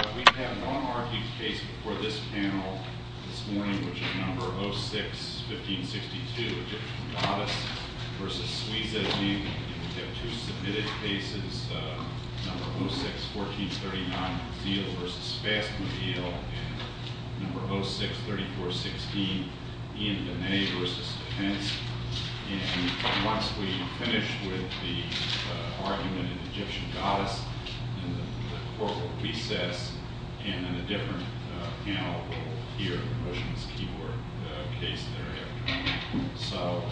We have one arguing case before this panel this morning, which is No. 06-1562, Egyption Goddess v. Swisa Inc. We have two submitted cases, No. 06-1439, Zeal v. Fastmobile, and No. 06-3416, Ian Demay v. Defense. And once we finish with the argument in Egyption Goddess, then the court will recess, and then a different panel will hear the motion's key word case thereafter. So,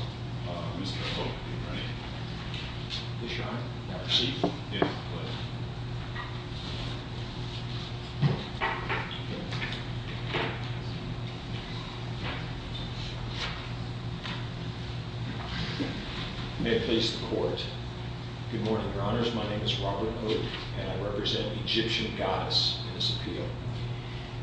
Mr. Hope, are you ready? Yes, Your Honor. May I proceed? Yes, please. May it please the court. Good morning, Your Honors. My name is Robert Hope, and I represent Egyption Goddess in this appeal.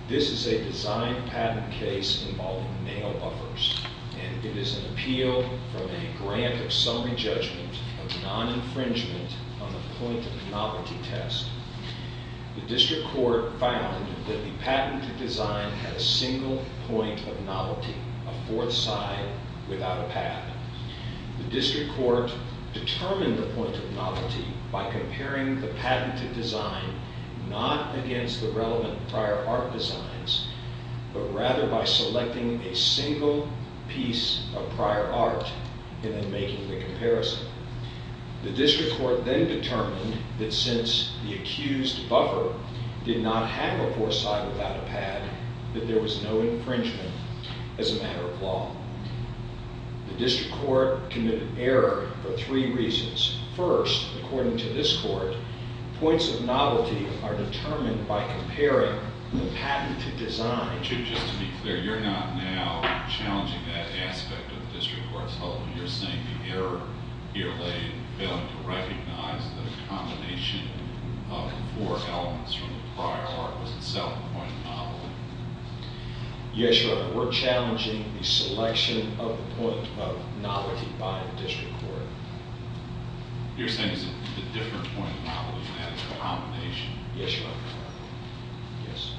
This is a design-patent case involving nail buffers, and it is an appeal from a grant of summary judgment of non-infringement on the point-of-novelty test. The district court found that the patented design had a single point of novelty, a fourth side without a pad. The district court determined the point of novelty by comparing the patented design not against the relevant prior art designs, but rather by selecting a single piece of prior art and then making the comparison. The district court then determined that since the accused buffer did not have a fourth side without a pad, that there was no infringement as a matter of law. The district court committed error for three reasons. First, according to this court, points of novelty are determined by comparing the patented design. Mr. Hope, just to be clear, you're not now challenging that aspect of the district court's hold. You're saying the error here laid in failing to recognize that a combination of the four elements from the prior art was itself a point of novelty. Yes, Your Honor, we're challenging the selection of the point of novelty by the district court. You're saying it's a different point of novelty than a combination? Yes, Your Honor. Yes.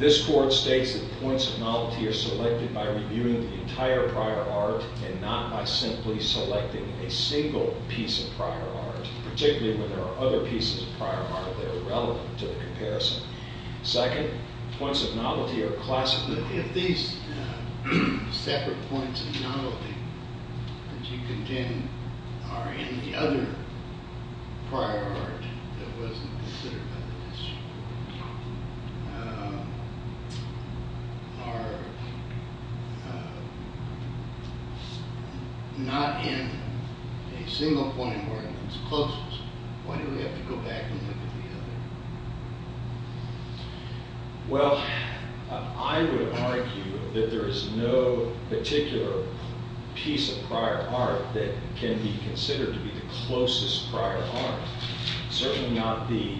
This court states that points of novelty are selected by reviewing the entire prior art and not by simply selecting a single piece of prior art, particularly when there are other pieces of prior art that are relevant to the comparison. Second, points of novelty are classified. If these separate points of novelty that you contend are in the other prior art that wasn't considered by the district court Why do we have to go back and look at the other? Well, I would argue that there is no particular piece of prior art that can be considered to be the closest prior art. Certainly not the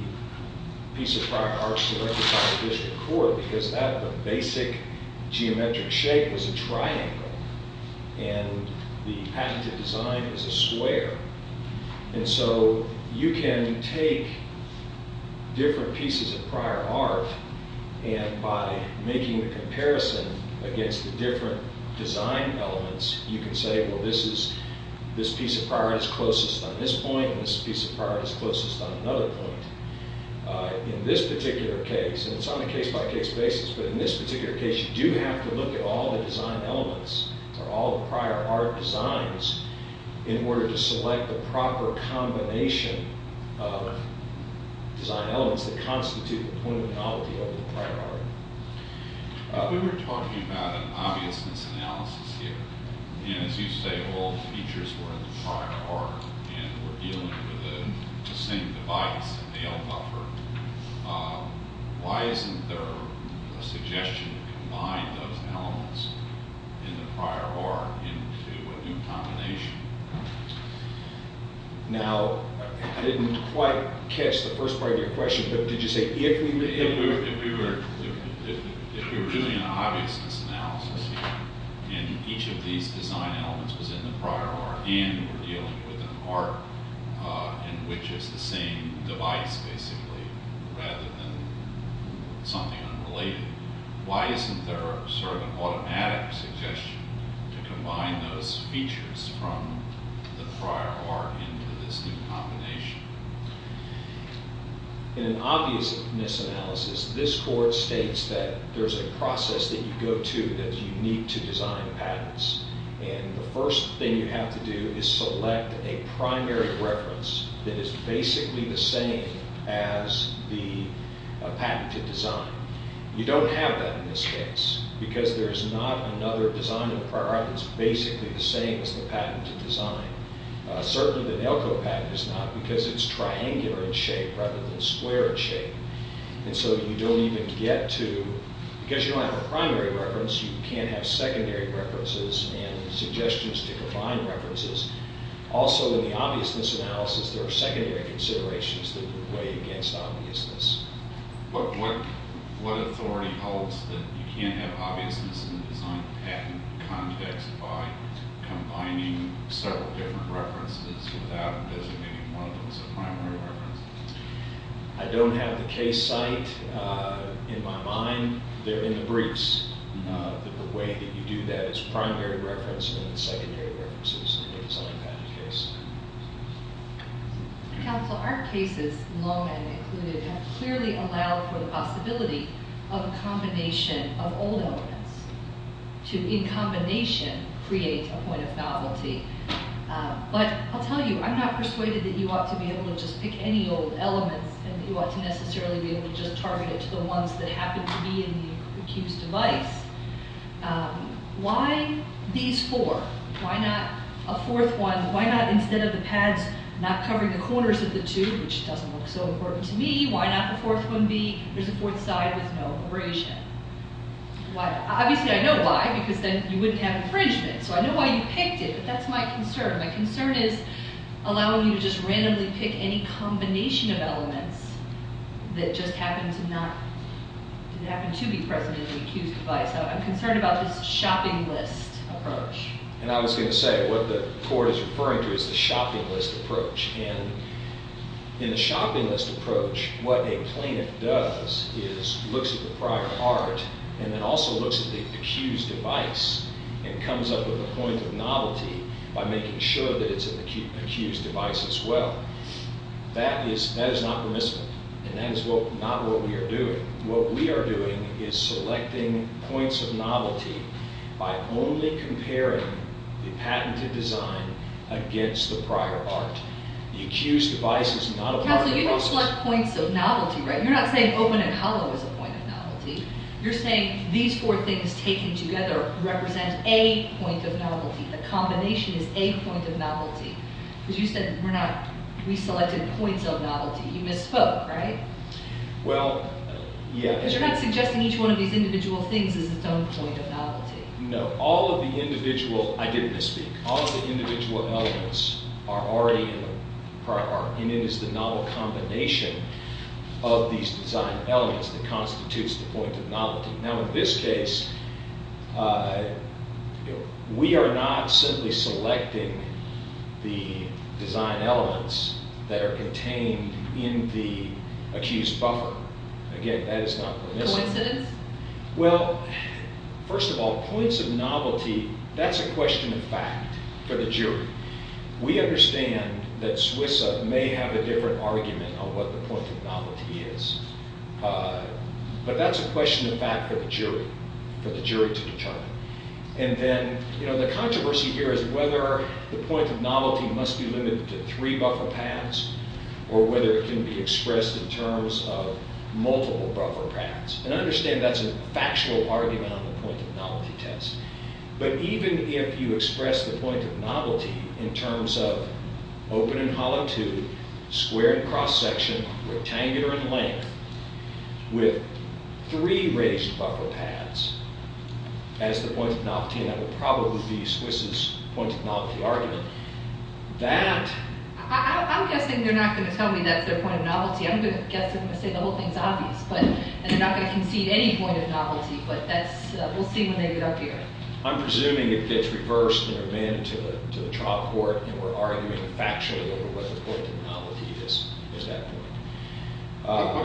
piece of prior art selected by the district court because that basic geometric shape is a triangle and the patented design is a square. And so you can take different pieces of prior art and by making the comparison against the different design elements you can say, well, this piece of prior art is closest on this point and this piece of prior art is closest on another point. In this particular case, and it's on a case-by-case basis, but in this particular case you do have to look at all the design elements or all the prior art designs in order to select the proper combination of design elements that constitute the point of novelty of the prior art. We were talking about an obviousness analysis here and as you say all the features were in the prior art and we're dealing with the same device, a veil buffer. Why isn't there a suggestion to combine those elements in the prior art into a new combination? Now, I didn't quite catch the first part of your question, but did you say if we were... If we were doing an obviousness analysis here and each of these design elements was in the prior art and we're dealing with an art in which it's the same device basically rather than something unrelated, why isn't there sort of an automatic suggestion to combine those features from the prior art into this new combination? In an obviousness analysis, this court states that there's a process that you go to that you need to design patterns and the first thing you have to do is select a primary reference that is basically the same as the patented design. You don't have that in this case because there's not another design in the prior art that's basically the same as the patented design. Certainly the Elko patent is not because it's triangular in shape rather than square in shape and so you don't even get to... and suggestions to combine references. Also in the obviousness analysis, there are secondary considerations that would weigh against obviousness. What authority holds that you can't have obviousness in the design patent context by combining several different references without designating one of them as a primary reference? I don't have the case site in my mind. They're in the briefs that the way that you do that is primary reference and secondary reference in the design patent case. Counsel, our cases, long and included, have clearly allowed for the possibility of a combination of old elements to, in combination, create a point of novelty. But I'll tell you, I'm not persuaded that you ought to be able to just pick any old elements and you ought to necessarily be able to just target it to the ones that happen to be in the accused device. Why these four? Why not a fourth one? Why not instead of the pads not covering the corners of the two, which doesn't look so important to me, why not the fourth one be there's a fourth side with no abrasion? Obviously I know why because then you wouldn't have infringement. My concern is allowing you to just randomly pick any combination of elements that just happen to be present in the accused device. I'm concerned about this shopping list approach. And I was going to say what the court is referring to is the shopping list approach. And in the shopping list approach, what a plaintiff does is looks at the prior art and then also looks at the accused device and comes up with a point of novelty by making sure that it's in the accused device as well. That is not permissible. And that is not what we are doing. What we are doing is selecting points of novelty by only comparing the patented design against the prior art. The accused device is not a part of that. Counselor, you don't select points of novelty, right? You're not saying open and hollow is a point of novelty. You're saying these four things taken together represent a point of novelty, a combination is a point of novelty. Because you said we're not, we selected points of novelty. You misspoke, right? Well, yeah. Because you're not suggesting each one of these individual things is its own point of novelty. No. All of the individual, I didn't misspeak. All of the individual elements are already in the prior art. And it is the novel combination of these design elements that constitutes the point of novelty. Now, in this case, we are not simply selecting the design elements that are contained in the accused buffer. Again, that is not permissible. Coincidence? Well, first of all, points of novelty, that's a question of fact for the jury. We understand that SWISA may have a different argument on what the point of novelty is. But that's a question of fact for the jury, for the jury to determine. And then, you know, the controversy here is whether the point of novelty must be limited to three buffer paths, or whether it can be expressed in terms of multiple buffer paths. And I understand that's a factual argument on the point of novelty test. But even if you express the point of novelty in terms of open and hollow tube, square and cross section, rectangular in length, with three raised buffer paths as the point of novelty, and that would probably be SWISA's point of novelty argument, that... I'm guessing they're not going to tell me that's their point of novelty. I'm going to guess, I'm going to say the whole thing's obvious. And they're not going to concede any point of novelty, but we'll see when they get up here. I'm presuming it gets reversed and remanded to the trial court, and we're arguing factually over what the point of novelty is at that point. How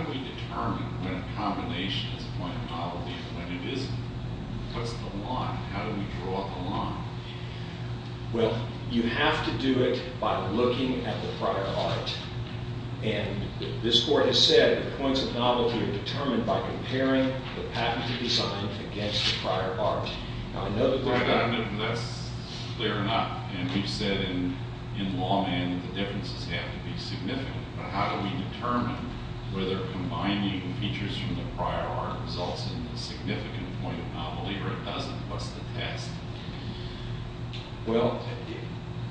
do we determine when a combination is a point of novelty and when it isn't? What's the line? How do we draw the line? Well, you have to do it by looking at the prior art. And this court has said that the points of novelty are determined by comparing the patent to be signed against the prior art. Now, I know that... That's clear enough. And we've said in law, man, that the differences have to be significant. But how do we determine whether combining features from the prior art results in a significant point of novelty or it doesn't? What's the test? Well,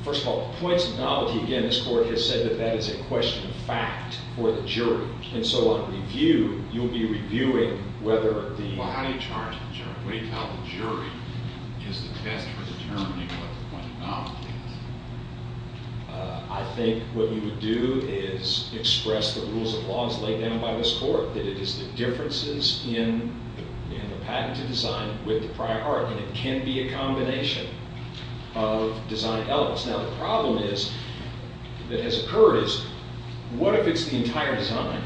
first of all, the points of novelty, again, this court has said that that is a question of fact for the jury. And so on review, you'll be reviewing whether the... Well, how do you charge the jury? What do you tell the jury is the test for determining what the point of novelty is? I think what you would do is express the rules of law as laid down by this court, that it is the differences in the patent to design with the prior art. And it can be a combination of design elements. Now, the problem that has occurred is what if it's the entire design?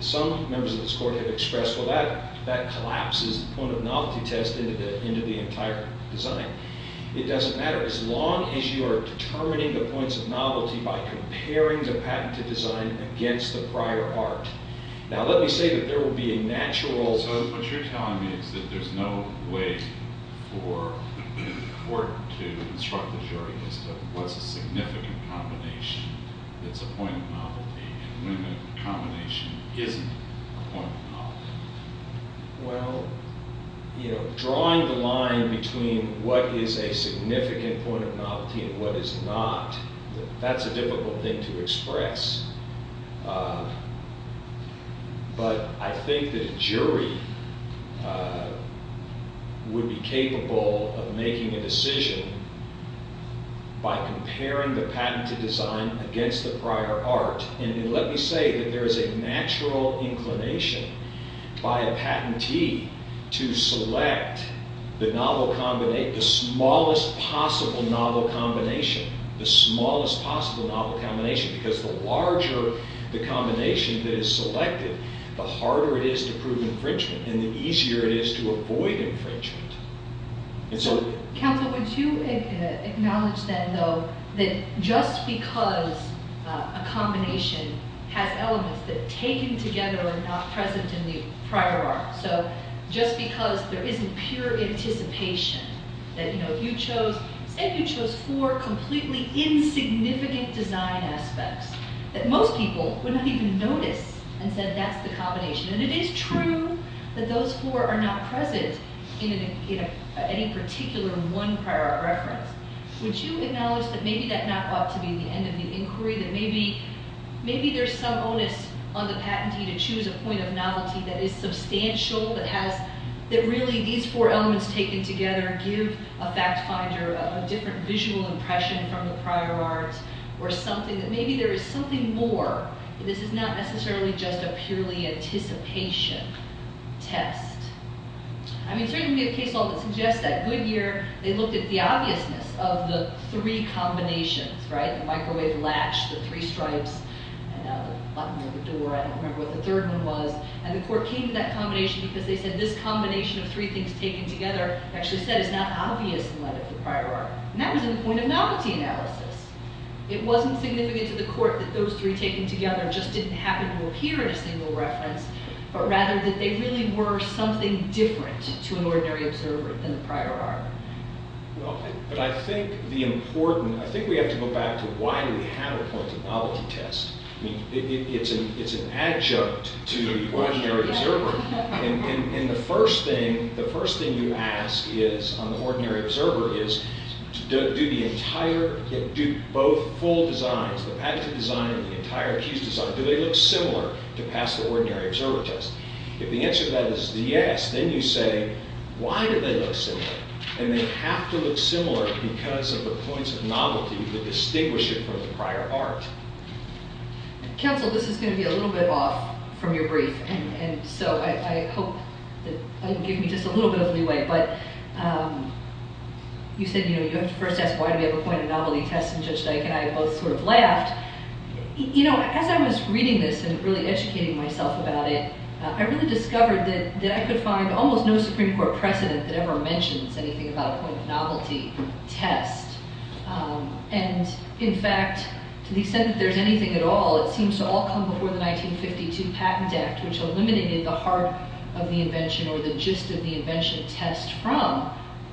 Some members of this court have expressed, well, that collapses the point of novelty test into the entire design. It doesn't matter as long as you are determining the points of novelty by comparing the patent to design against the prior art. Now, let me say that there will be a natural... for the court to instruct the jury as to what's a significant combination that's a point of novelty and when a combination isn't a point of novelty. Well, you know, drawing the line between what is a significant point of novelty and what is not, that's a difficult thing to express. But I think that a jury would be capable of making a decision by comparing the patent to design against the prior art. And let me say that there is a natural inclination by a patentee to select the smallest possible novel combination. The smallest possible novel combination because the larger the combination that is selected, the harder it is to prove infringement and the easier it is to avoid infringement. And so... Counsel, would you acknowledge then, though, that just because a combination has elements that taken together and not present in the prior art, so just because there isn't pure anticipation that, you know, there are completely insignificant design aspects that most people would not even notice and say that's the combination. And it is true that those four are not present in any particular one prior art reference. Would you acknowledge that maybe that not ought to be the end of the inquiry, that maybe there's some onus on the patentee to choose a point of novelty that is substantial, that really these four elements taken together give a fact finder a different visual impression from the prior art or something that maybe there is something more. This is not necessarily just a purely anticipation test. I mean, certainly the case law that suggests that Goodyear, they looked at the obviousness of the three combinations, right? The microwave latch, the three stripes, the button on the door, I don't remember what the third one was. And the court came to that combination because they said this combination of three things taken together actually said is not obvious in light of the prior art. And that was in the point of novelty analysis. It wasn't significant to the court that those three taken together just didn't happen to appear in a single reference, but rather that they really were something different to an ordinary observer than the prior art. Well, but I think the important, I think we have to go back to why do we have a point of novelty test? I mean, it's an adjunct to the ordinary observer. And the first thing you ask on the ordinary observer is do the entire, both full designs, the patented design and the entire accused design, do they look similar to pass the ordinary observer test? If the answer to that is yes, then you say, why do they look similar? And they have to look similar because of the points of novelty that distinguish it from the prior art. Counsel, this is going to be a little bit off from your brief. And so I hope that you'll give me just a little bit of leeway. But you said, you know, you have to first ask why do we have a point of novelty test, and Judge Dyke and I both sort of laughed. You know, as I was reading this and really educating myself about it, I really discovered that I could find almost no Supreme Court precedent that ever mentions anything about a point of novelty test. And in fact, to the extent that there's anything at all, it seems to all come before the 1952 Patent Act, which eliminated the heart of the invention or the gist of the invention test from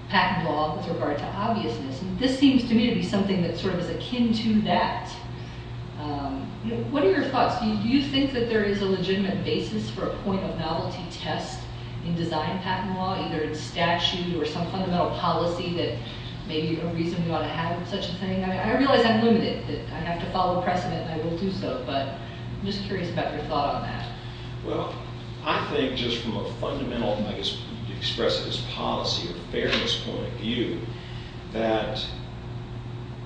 patent law with regard to obviousness. And this seems to me to be something that sort of is akin to that. What are your thoughts? Do you think that there is a legitimate basis for a point of novelty test in design patent law, either in statute or some fundamental policy that may be a reason we ought to have such a thing? I realize I'm limited. I have to follow precedent, and I will do so. But I'm just curious about your thought on that. Well, I think just from a fundamental, and I guess you could express it as policy or fairness point of view, that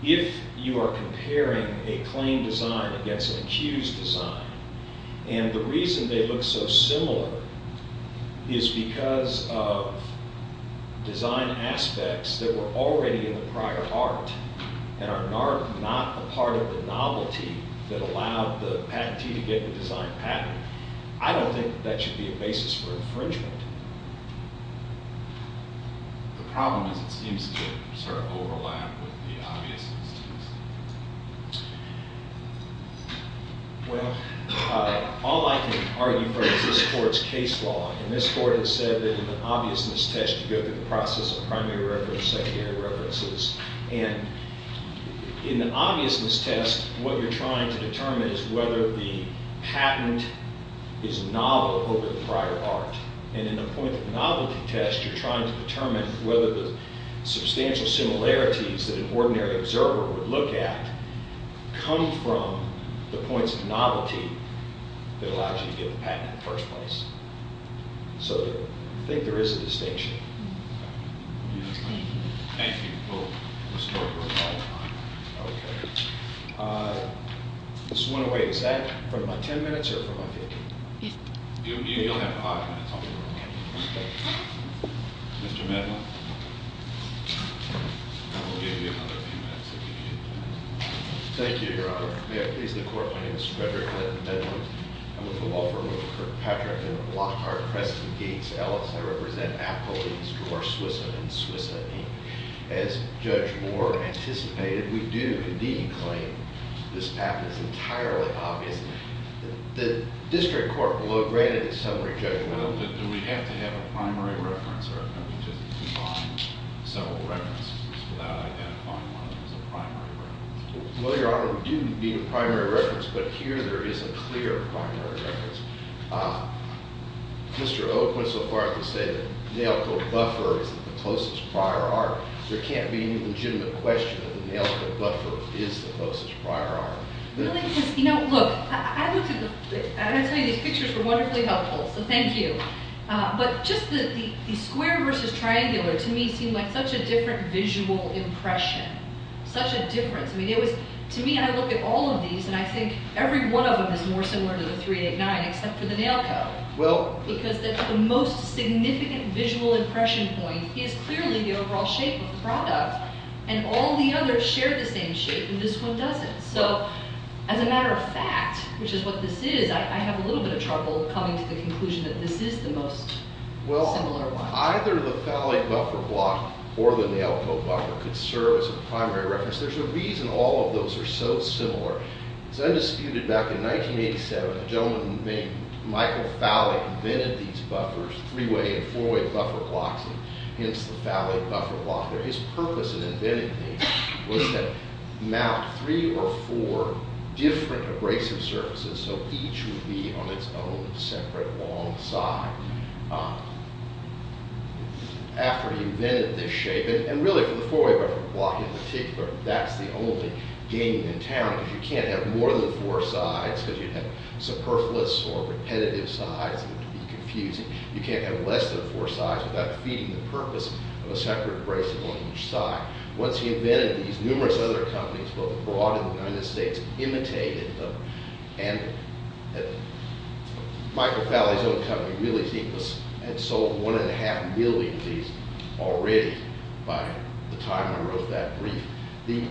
if you are comparing a claimed design against an accused design, and the reason they look so similar is because of design aspects that were already in the prior art. And are not a part of the novelty that allowed the patentee to get the design patent. I don't think that should be a basis for infringement. The problem is it seems to sort of overlap with the obviousness test. Well, all I can argue for is this court's case law. And this court has said that in an obviousness test, you go through the process of primary references, secondary references. And in the obviousness test, what you're trying to determine is whether the patent is novel over the prior art. And in the point of novelty test, you're trying to determine whether the substantial similarities that an ordinary observer would look at come from the points of novelty that allows you to get the patent in the first place. So I think there is a distinction. Thank you. Thank you. We'll restore her at all times. Okay. I just want to wait. Is that for my 10 minutes or for my 15? Yes. You'll have five minutes. Okay. Mr. Medlin. I will give you another few minutes if you need to. Thank you, Your Honor. May it please the court. My name is Frederick Medlin. I'm with the law firm of Kirkpatrick and Lockhart, Preston Gates Ellis. I represent appellees for SWISA and SWISAE. As Judge Moore anticipated, we do indeed claim this app is entirely obvious. The district court below graded the summary judgment. Do we have to have a primary reference or can we just combine several references without identifying one as a primary reference? Well, Your Honor, we do need a primary reference, but here there is a clear primary reference. Mr. Oakwood so far has said that the nail coat buffer is the closest prior art. There can't be any legitimate question that the nail coat buffer is the closest prior art. Really? Because, you know, look, I looked at the – and I tell you, these pictures were wonderfully helpful, so thank you. But just the square versus triangular to me seemed like such a different visual impression, such a difference. I mean, it was – to me, I look at all of these, and I think every one of them is more similar to the 389 except for the nail coat. Well – Because the most significant visual impression point is clearly the overall shape of the product, and all the others share the same shape, and this one doesn't. So as a matter of fact, which is what this is, I have a little bit of trouble coming to the conclusion that this is the most similar one. Well, either the Thali buffer block or the nail coat buffer could serve as a primary reference. There's a reason all of those are so similar. It's undisputed back in 1987, a gentleman named Michael Thali invented these buffers, three-way and four-way buffer blocks, and hence the Thali buffer block. His purpose in inventing these was to mount three or four different abrasive surfaces so each would be on its own separate long side. After he invented this shape, and really for the four-way buffer block in particular, that's the only game in town, because you can't have more than four sides because you'd have superfluous or repetitive sides, and it would be confusing. You can't have less than four sides without defeating the purpose of a separate abrasive on each side. Once he invented these, numerous other companies, both abroad and in the United States, imitated them, and Michael Thali's own company really had sold one and a half million of these already by the time I wrote that brief. The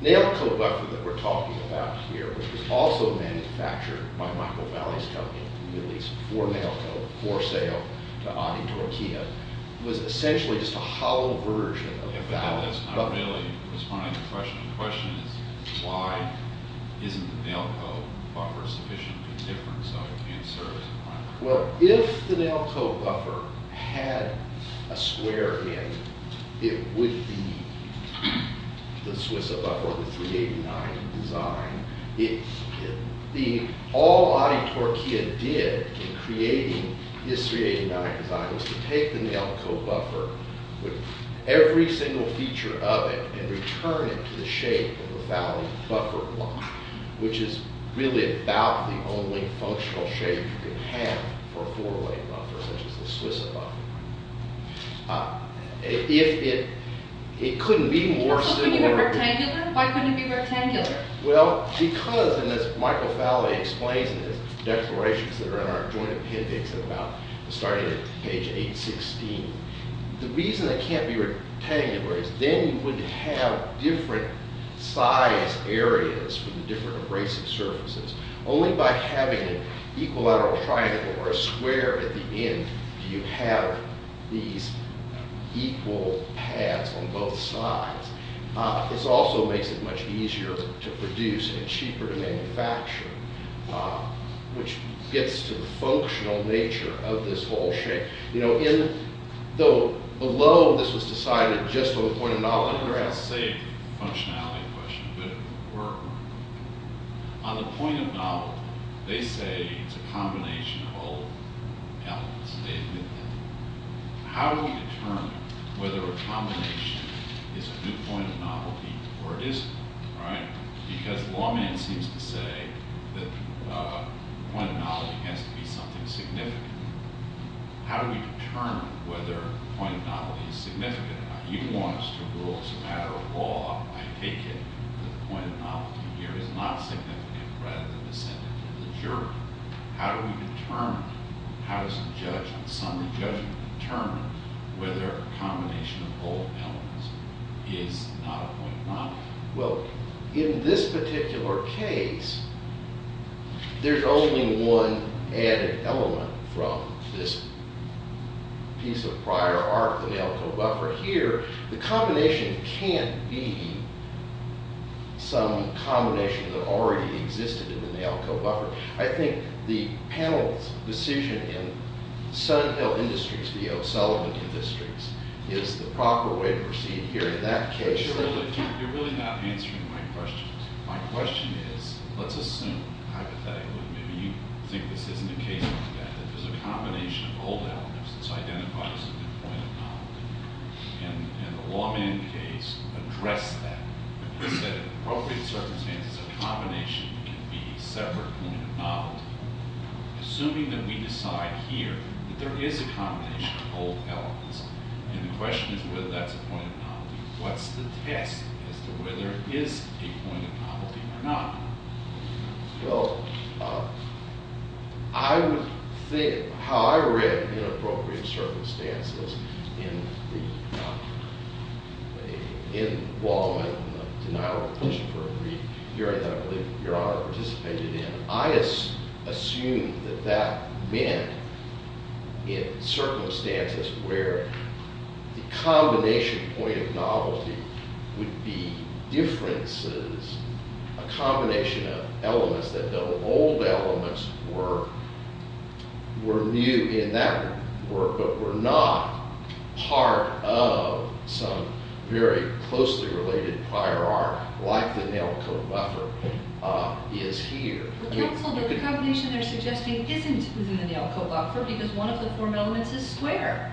nail coat buffer that we're talking about here, which was also manufactured by Michael Thali's company, released for nail coat, for sale to Adi Torquilla, was essentially just a hollow version of the Thali buffer. Yeah, but that's not really responding to the question. The question is, why isn't the nail coat buffer sufficiently different so it can't serve as a primary? Well, if the nail coat buffer had a square in, it would be the Swissa buffer, the 389 design. All Adi Torquilla did in creating this 389 design was to take the nail coat buffer, with every single feature of it, and return it to the shape of the Thali buffer block, which is really about the only functional shape you can have for a four-way buffer, such as the Swissa buffer. If it couldn't be more similar... Why couldn't it be rectangular? Well, because, and as Michael Thali explains in his declarations that are in our joint appendix, about starting at page 816, the reason it can't be rectangular is then you would have different size areas for the different abrasive surfaces. Only by having an equilateral triangle or a square at the end do you have these equal pads on both sides. This also makes it much easier to produce and cheaper to manufacture, which gets to the functional nature of this whole shape. You know, below this was decided just on the point of knowledge. I don't know if that saved the functionality question, but it worked. On the point of novelty, they say it's a combination of old elements. They admit that. How do we determine whether a combination is a good point of novelty or it isn't? Because the lawman seems to say that the point of novelty has to be something significant. How do we determine whether a point of novelty is significant or not? You want us to rule as a matter of law. I take it that the point of novelty here is not significant, rather than ascendant to the jury. How do we determine? How does the judgment, summary judgment, determine whether a combination of old elements is not a point of novelty? Well, in this particular case, there's only one added element from this piece of prior art, the nalco buffer. Here, the combination can't be some combination that already existed in the nalco buffer. I think the panel's decision in Sunhill Industries v. O'Sullivan Industries is the proper way to proceed here in that case. You're really not answering my question. My question is, let's assume hypothetically, maybe you think this isn't a case like that, that there's a combination of old elements that's identified as a point of novelty. And the lawman case addressed that and said, in appropriate circumstances, a combination can be a separate point of novelty. Assuming that we decide here that there is a combination of old elements, and the question is whether that's a point of novelty, what's the test as to whether it is a point of novelty or not? Well, I would think, how I read in appropriate circumstances, in the lawman denial of petition for a brief hearing that I believe Your Honor participated in, I assumed that that meant in circumstances where the combination point of novelty would be differences, a combination of elements, that the old elements were new in that work, but were not part of some very closely related prior arc like the nalco buffer is here. But counsel, the combination they're suggesting isn't within the nalco buffer because one of the form elements is square.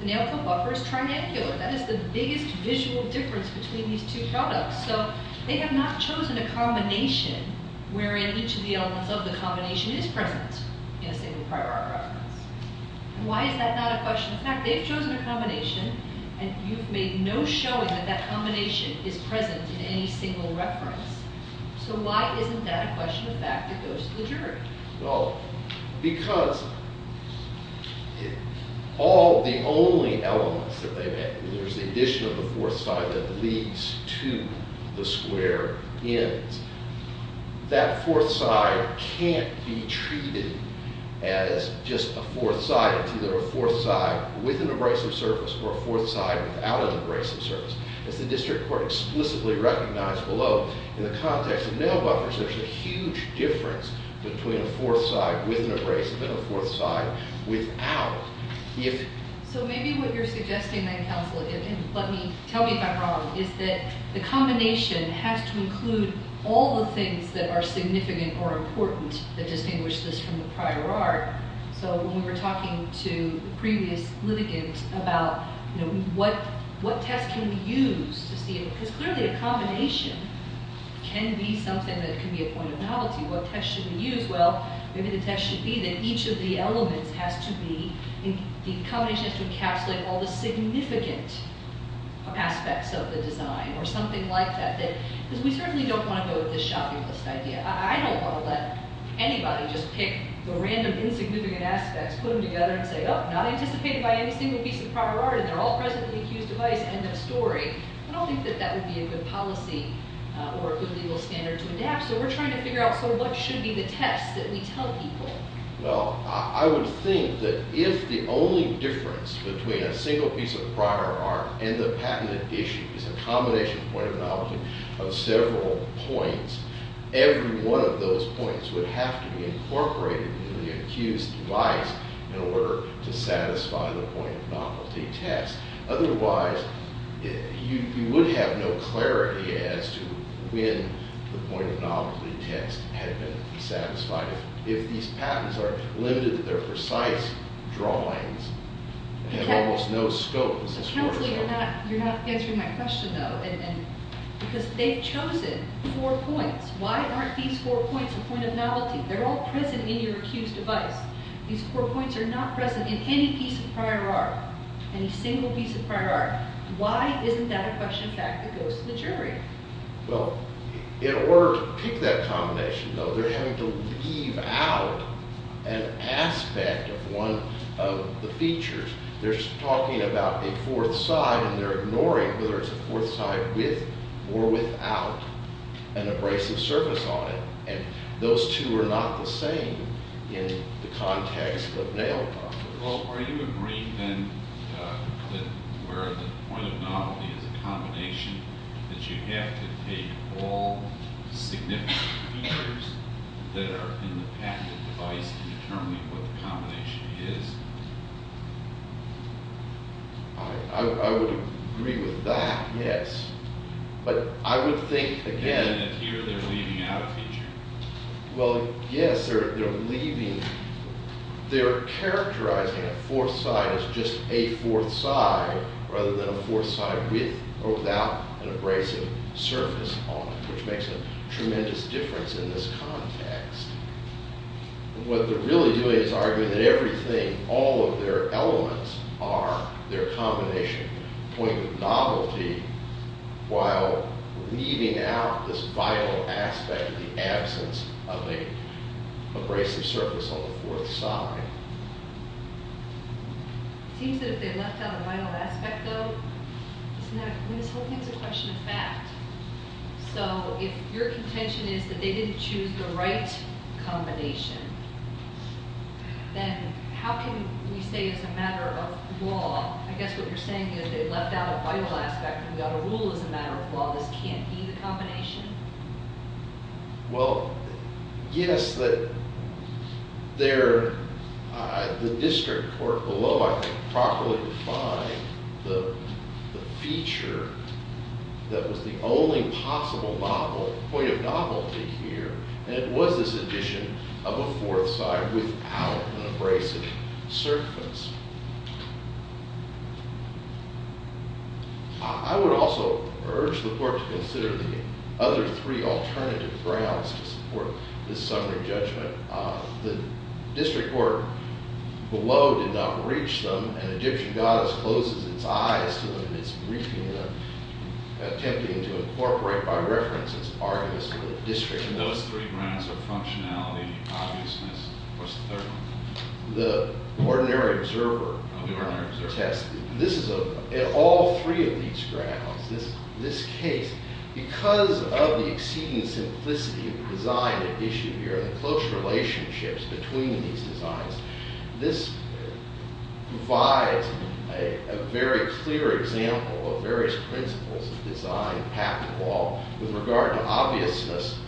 The nalco buffer is triangular. That is the biggest visual difference between these two products. So they have not chosen a combination wherein each of the elements of the combination is present in a single prior arc reference. And why is that not a question? In fact, they've chosen a combination, and you've made no showing that that combination is present in any single reference. So why isn't that a question of fact that goes to the jury? Well, because all the only elements that they've added, there's the addition of the fourth side that leads to the square ends. That fourth side can't be treated as just a fourth side. It's either a fourth side with an abrasive surface or a fourth side without an abrasive surface. As the district court explicitly recognized below, in the context of nalco buffers, there's a huge difference between a fourth side with an abrasive and a fourth side without. So maybe what you're suggesting then, counsel, and tell me if I'm wrong, is that the combination has to include all the things that are significant or important that distinguish this from the prior arc. So when we were talking to the previous litigant about what test can we use to see it, because clearly a combination can be something that can be a point of novelty. What test should we use? Well, maybe the test should be that each of the elements has to be, the combination has to encapsulate all the significant aspects of the design or something like that. Because we certainly don't want to go with this shopping list idea. I don't want to let anybody just pick the random insignificant aspects, put them together and say, oh, not anticipated by any single piece of prior art, and they're all presently accused of vice, end of story. I don't think that that would be a good policy or a good legal standard to adapt. So we're trying to figure out, so what should be the test that we tell people? Well, I would think that if the only difference between a single piece of prior art and the patented issue is a combination point of novelty of several points, every one of those points would have to be incorporated in the accused's device in order to satisfy the point of novelty test. Otherwise, you would have no clarity as to when the point of novelty test had been satisfied. If these patents are limited to their precise drawings, they have almost no scope. Accountably, you're not answering my question, though, because they've chosen four points. Why aren't these four points a point of novelty? They're all present in your accused's device. These four points are not present in any piece of prior art, any single piece of prior art. Why isn't that a question of fact that goes to the jury? Well, in order to pick that combination, though, they're having to leave out an aspect of one of the features. They're talking about a fourth side, and they're ignoring whether it's a fourth side with or without an abrasive surface on it. And those two are not the same in the context of nail practice. Well, are you agreeing, then, that where the point of novelty is a combination, that you have to take all significant features that are in the patented device to determine what the combination is? I would agree with that, yes. But I would think, again, that here they're leaving out a feature. Well, yes, they're leaving. They're characterizing a fourth side as just a fourth side, rather than a fourth side with or without an abrasive surface on it, which makes a tremendous difference in this context. What they're really doing is arguing that everything, all of their elements are their combination. The point of novelty, while leaving out this vital aspect of the absence of an abrasive surface on the fourth side. It seems that if they left out a vital aspect, though, isn't that, I mean, this whole thing's a question of fact. So if your contention is that they didn't choose the right combination, then how can we say, as a matter of law, I guess what you're saying is they left out a vital aspect, and we've got a rule as a matter of law, this can't be the combination? Well, yes, the district court below, I think, properly defined the feature that was the only possible point of novelty here, and it was this addition of a fourth side without an abrasive surface. I would also urge the court to consider the other three alternative grounds to support this summary judgment. The district court below did not reach them, and Egyptian goddess closes its eyes to them in its briefing, attempting to incorporate by reference its arguments with the district court. And those three grounds are functionality, obviousness, and, of course, the third one. The ordinary observer test, this is a, in all three of these grounds, this case, because of the exceeding simplicity of the design at issue here, the close relationships between these designs, this provides a very clear example of various principles of design, path, and wall. With regard to obviousness,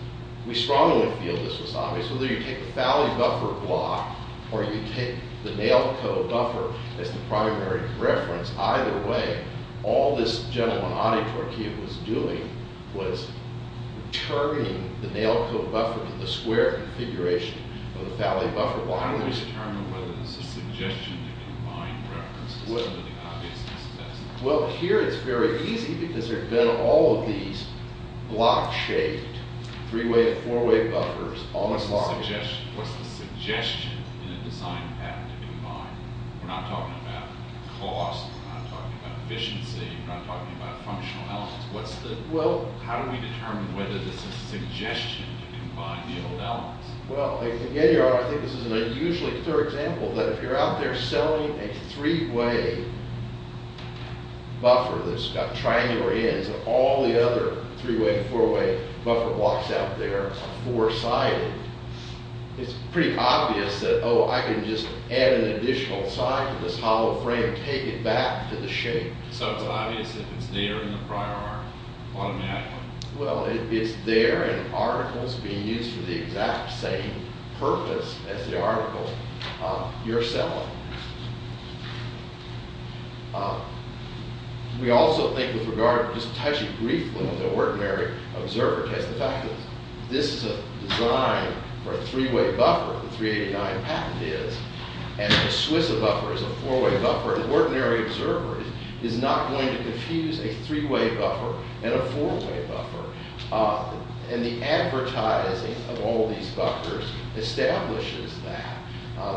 we strongly feel this was obvious. Whether you take the valley buffer block or you take the nail code buffer as the primary reference, either way, all this gentleman, Adi Torkia, was doing was turning the nail code buffer to the square configuration of the valley buffer block. How do we determine whether this is a suggestion of a combined reference to some of the obviousness tests? Well, here it's very easy because there have been all of these block-shaped, three-way, four-way buffers all along. What's the suggestion in a design pattern to combine? We're not talking about cost. We're not talking about efficiency. We're not talking about functional elements. How do we determine whether this is a suggestion to combine the old elements? Well, I think this is an unusually clear example that if you're out there selling a three-way buffer that's got triangular ends and all the other three-way, four-way buffer blocks out there are four-sided, it's pretty obvious that, oh, I can just add an additional side to this hollow frame and take it back to the shape. So it's obvious if it's there in the prior art automatically. Well, it's there in articles being used for the exact same purpose as the article you're selling. We also think with regard, just touching briefly on the ordinary observer test, the fact is this is a design for a three-way buffer. The 389 patent is. And the SWISA buffer is a four-way buffer. An ordinary observer is not going to confuse a three-way buffer and a four-way buffer. And the advertising of all these buffers establishes that.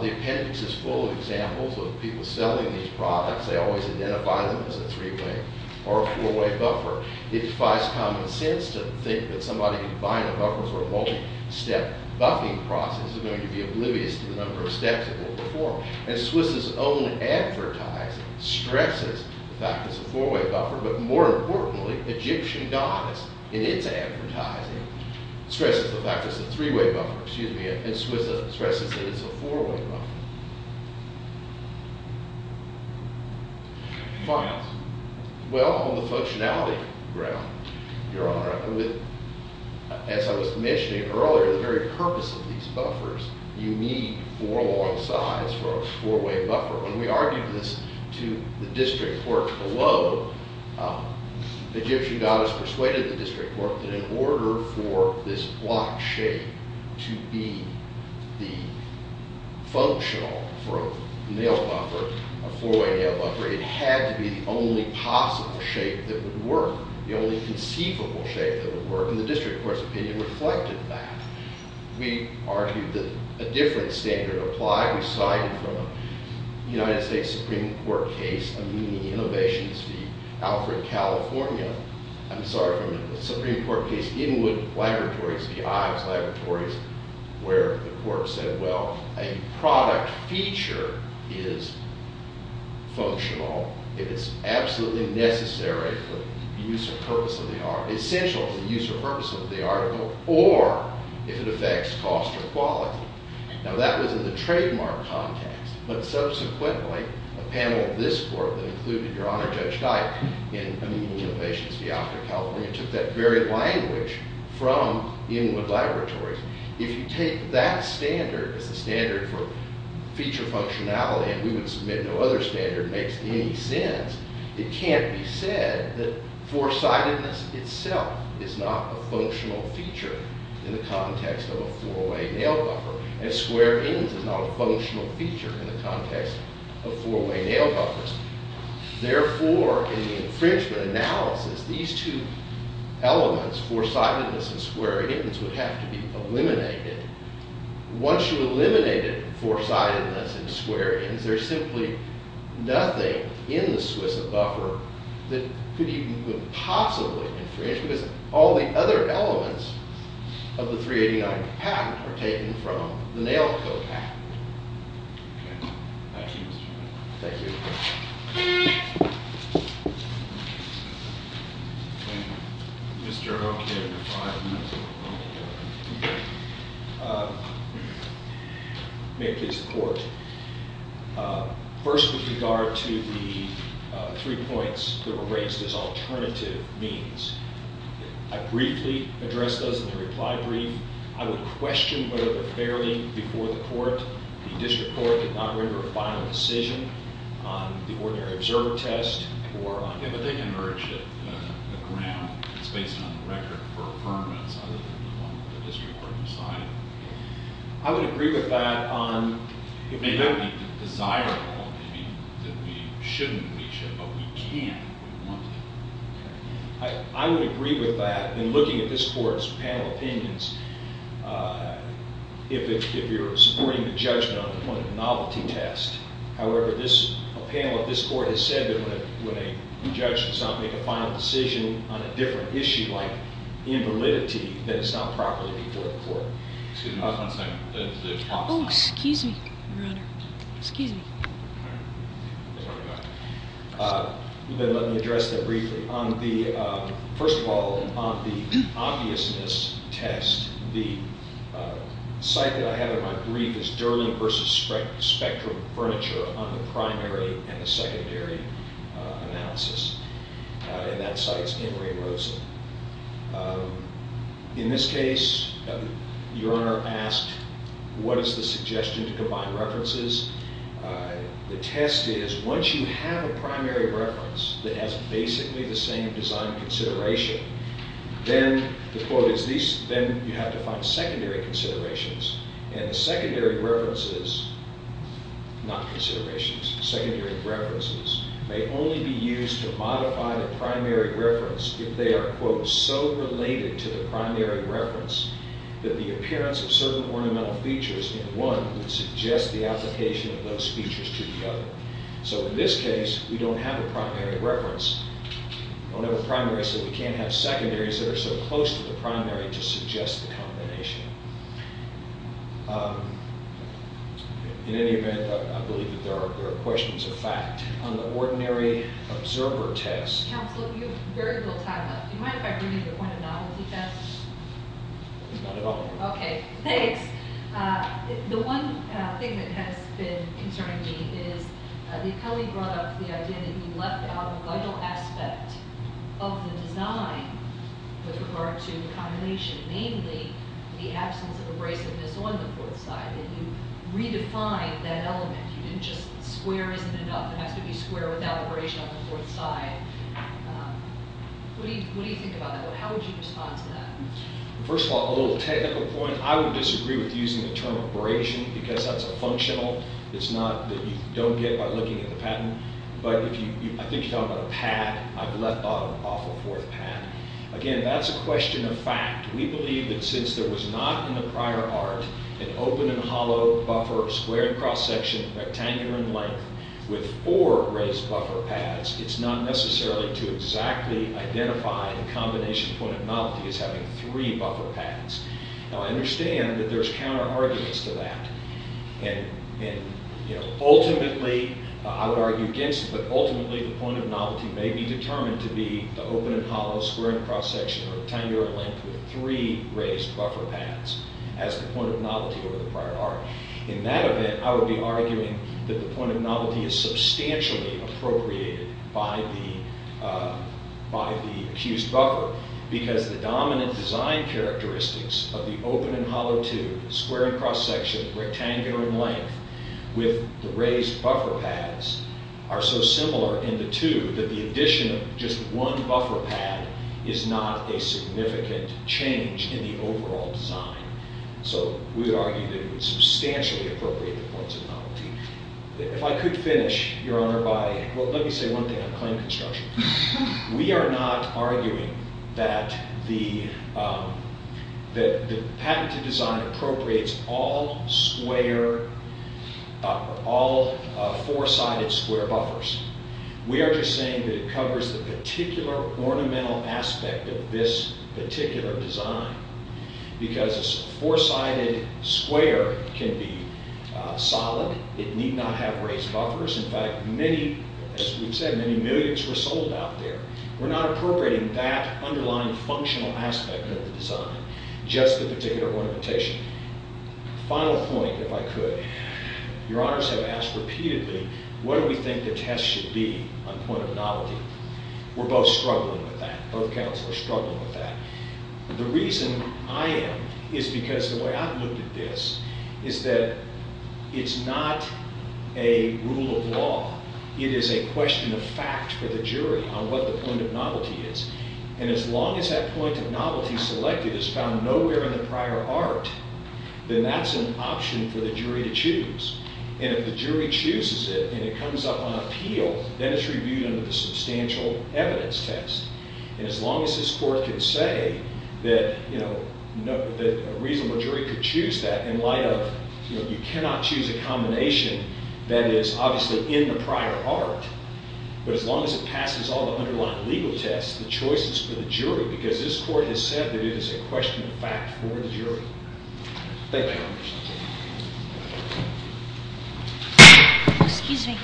The appendix is full of examples of people selling these products. They always identify them as a three-way or a four-way buffer. It defies common sense to think that somebody buying a buffer for a multi-step buffing process is going to be oblivious to the number of steps it will perform. And SWISA's own advertising stresses the fact that it's a four-way buffer. But more importantly, Egyptian goddess in its advertising stresses the fact that it's a three-way buffer. Excuse me. And SWISA stresses that it's a four-way buffer. Files. Well, on the functionality ground, Your Honor, as I was mentioning earlier, the very purpose of these buffers, you need four long sides for a four-way buffer. When we argued this to the district court below, Egyptian goddess persuaded the district court that in order for this block shape to be the functional for a nail buffer, a four-way nail was the only possible shape that would work, the only conceivable shape that would work. And the district court's opinion reflected that. We argued that a different standard applied. We cited from a United States Supreme Court case, a mini-innovations fee, Alfred, California. I'm sorry, from a Supreme Court case, Inwood Laboratories v. Ives Laboratories, where the court said, well, a product feature is functional. It is absolutely necessary for the use or purpose of the article, essential for the use or purpose of the article, or if it affects cost or quality. Now, that was in the trademark context. But subsequently, a panel of this court that included Your Honor Judge Dyke in a mini-innovations fee, Alfred, California, took that very language from Inwood Laboratories. If you take that standard as the standard for feature functionality, and we would submit no other standard makes any sense, it can't be said that four-sidedness itself is not a functional feature in the context of a four-way nail buffer. And square ends is not a functional feature in the context of four-way nail buffers. Therefore, in the infringement analysis, these two elements, four-sidedness and square ends, would have to be eliminated. Once you eliminated four-sidedness and square ends, there's simply nothing in the SWISA buffer that could even possibly infringe, because all the other elements of the 389 patent are taken from the Nail Code patent. Thank you. May it please the Court. First, with regard to the three points that were raised as alternative means, I briefly addressed those in the reply brief. I would question whether the fairly before the Court, the District Court, did not render a final decision on the ordinary observer test or on... Yeah, but they emerged at the ground. It's based on the record for affirmance other than the one that the District Court decided. I would agree with that on... It may not be desirable, maybe, that we shouldn't reach it, but we can if we want to. I would agree with that in looking at this Court's panel opinions. If you're supporting the judgment on the point of novelty test, however, a panel of this Court has said that when a judge does not make a final decision on a different issue like invalidity, then it's not properly before the Court. Excuse me. Oh, excuse me, Your Honor. Excuse me. Let me address that briefly. First of all, on the obviousness test, the site that I have in my brief is Durling v. Spectrum Furniture on the primary and the secondary analysis, and that site's in Ray Rosen. In this case, Your Honor asked what is the suggestion to combine references. The test is once you have a primary reference that has basically the same design consideration, then, the quote is, then you have to find secondary considerations, and the secondary references, not considerations, secondary references, may only be used to modify the primary reference if they are, quote, so related to the primary reference that the appearance of certain ornamental features in one would suggest the application of those features to the other. So in this case, we don't have a primary reference. We don't have a primary, so we can't have secondaries that are so close to the primary to suggest the combination. In any event, I believe that there are questions of fact. On the ordinary observer test... Counsel, you have very little time left. Do you mind if I bring in the point of novelty test? It's not at all. Okay, thanks. The one thing that has been concerning me is that Kelly brought up the idea that you left out a vital aspect of the design with regard to the combination, namely the absence of abrasiveness on the fourth side, and you redefined that element. You didn't just... Square isn't enough. It has to be square without abrasion on the fourth side. What do you think about that? How would you respond to that? First of all, a little technical point. I would disagree with using the term abrasion because that's a functional. It's not that you don't get by looking at the patent. But if you... I think you're talking about a pad. I've left off a fourth pad. Again, that's a question of fact. We believe that since there was not in the prior art an open and hollow buffer, square and cross-section, rectangular in length, with four raised buffer pads, it's not necessarily to exactly identify the combination point of novelty as having three buffer pads. Now, I understand that there's counter-arguments to that. And, you know, ultimately, I would argue against it, but ultimately the point of novelty may be determined to be the open and hollow, square and cross-section, or rectangular in length as the point of novelty over the prior art. In that event, I would be arguing that the point of novelty is substantially appropriated by the accused buffer because the dominant design characteristics of the open and hollow tube, square and cross-section, rectangular in length, with the raised buffer pads are so similar in the two that the addition of just one buffer pad is not a significant change in the overall design. So we would argue that it would substantially appropriate the points of novelty. If I could finish, Your Honor, by, well, let me say one thing on claim construction. We are not arguing that the patented design appropriates all square, all four-sided square buffers. We are just saying that it covers the particular ornamental aspect of this particular design because a four-sided square can be solid. It need not have raised buffers. In fact, many, as we've said, many millions were sold out there. We're not appropriating that underlying functional aspect of the design, just the particular ornamentation. Final point, if I could. Your Honors have asked repeatedly, what do we think the test should be on point of novelty? We're both struggling with that. Both counsel are struggling with that. The reason I am is because the way I've looked at this is that it's not a rule of law. It is a question of fact for the jury on what the point of novelty is. And as long as that point of novelty selected is found nowhere in the prior art, then that's an option for the jury to choose. And if the jury chooses it and it comes up on appeal, then it's reviewed under the substantial evidence test. And as long as this court can say that a reasonable jury could choose that in light of, you know, you cannot choose a combination that is obviously in the prior art, but as long as it passes all the underlying legal tests, the choice is for the jury because this court has said that it is a question of fact for the jury. Thank you, Your Honors. Excuse me.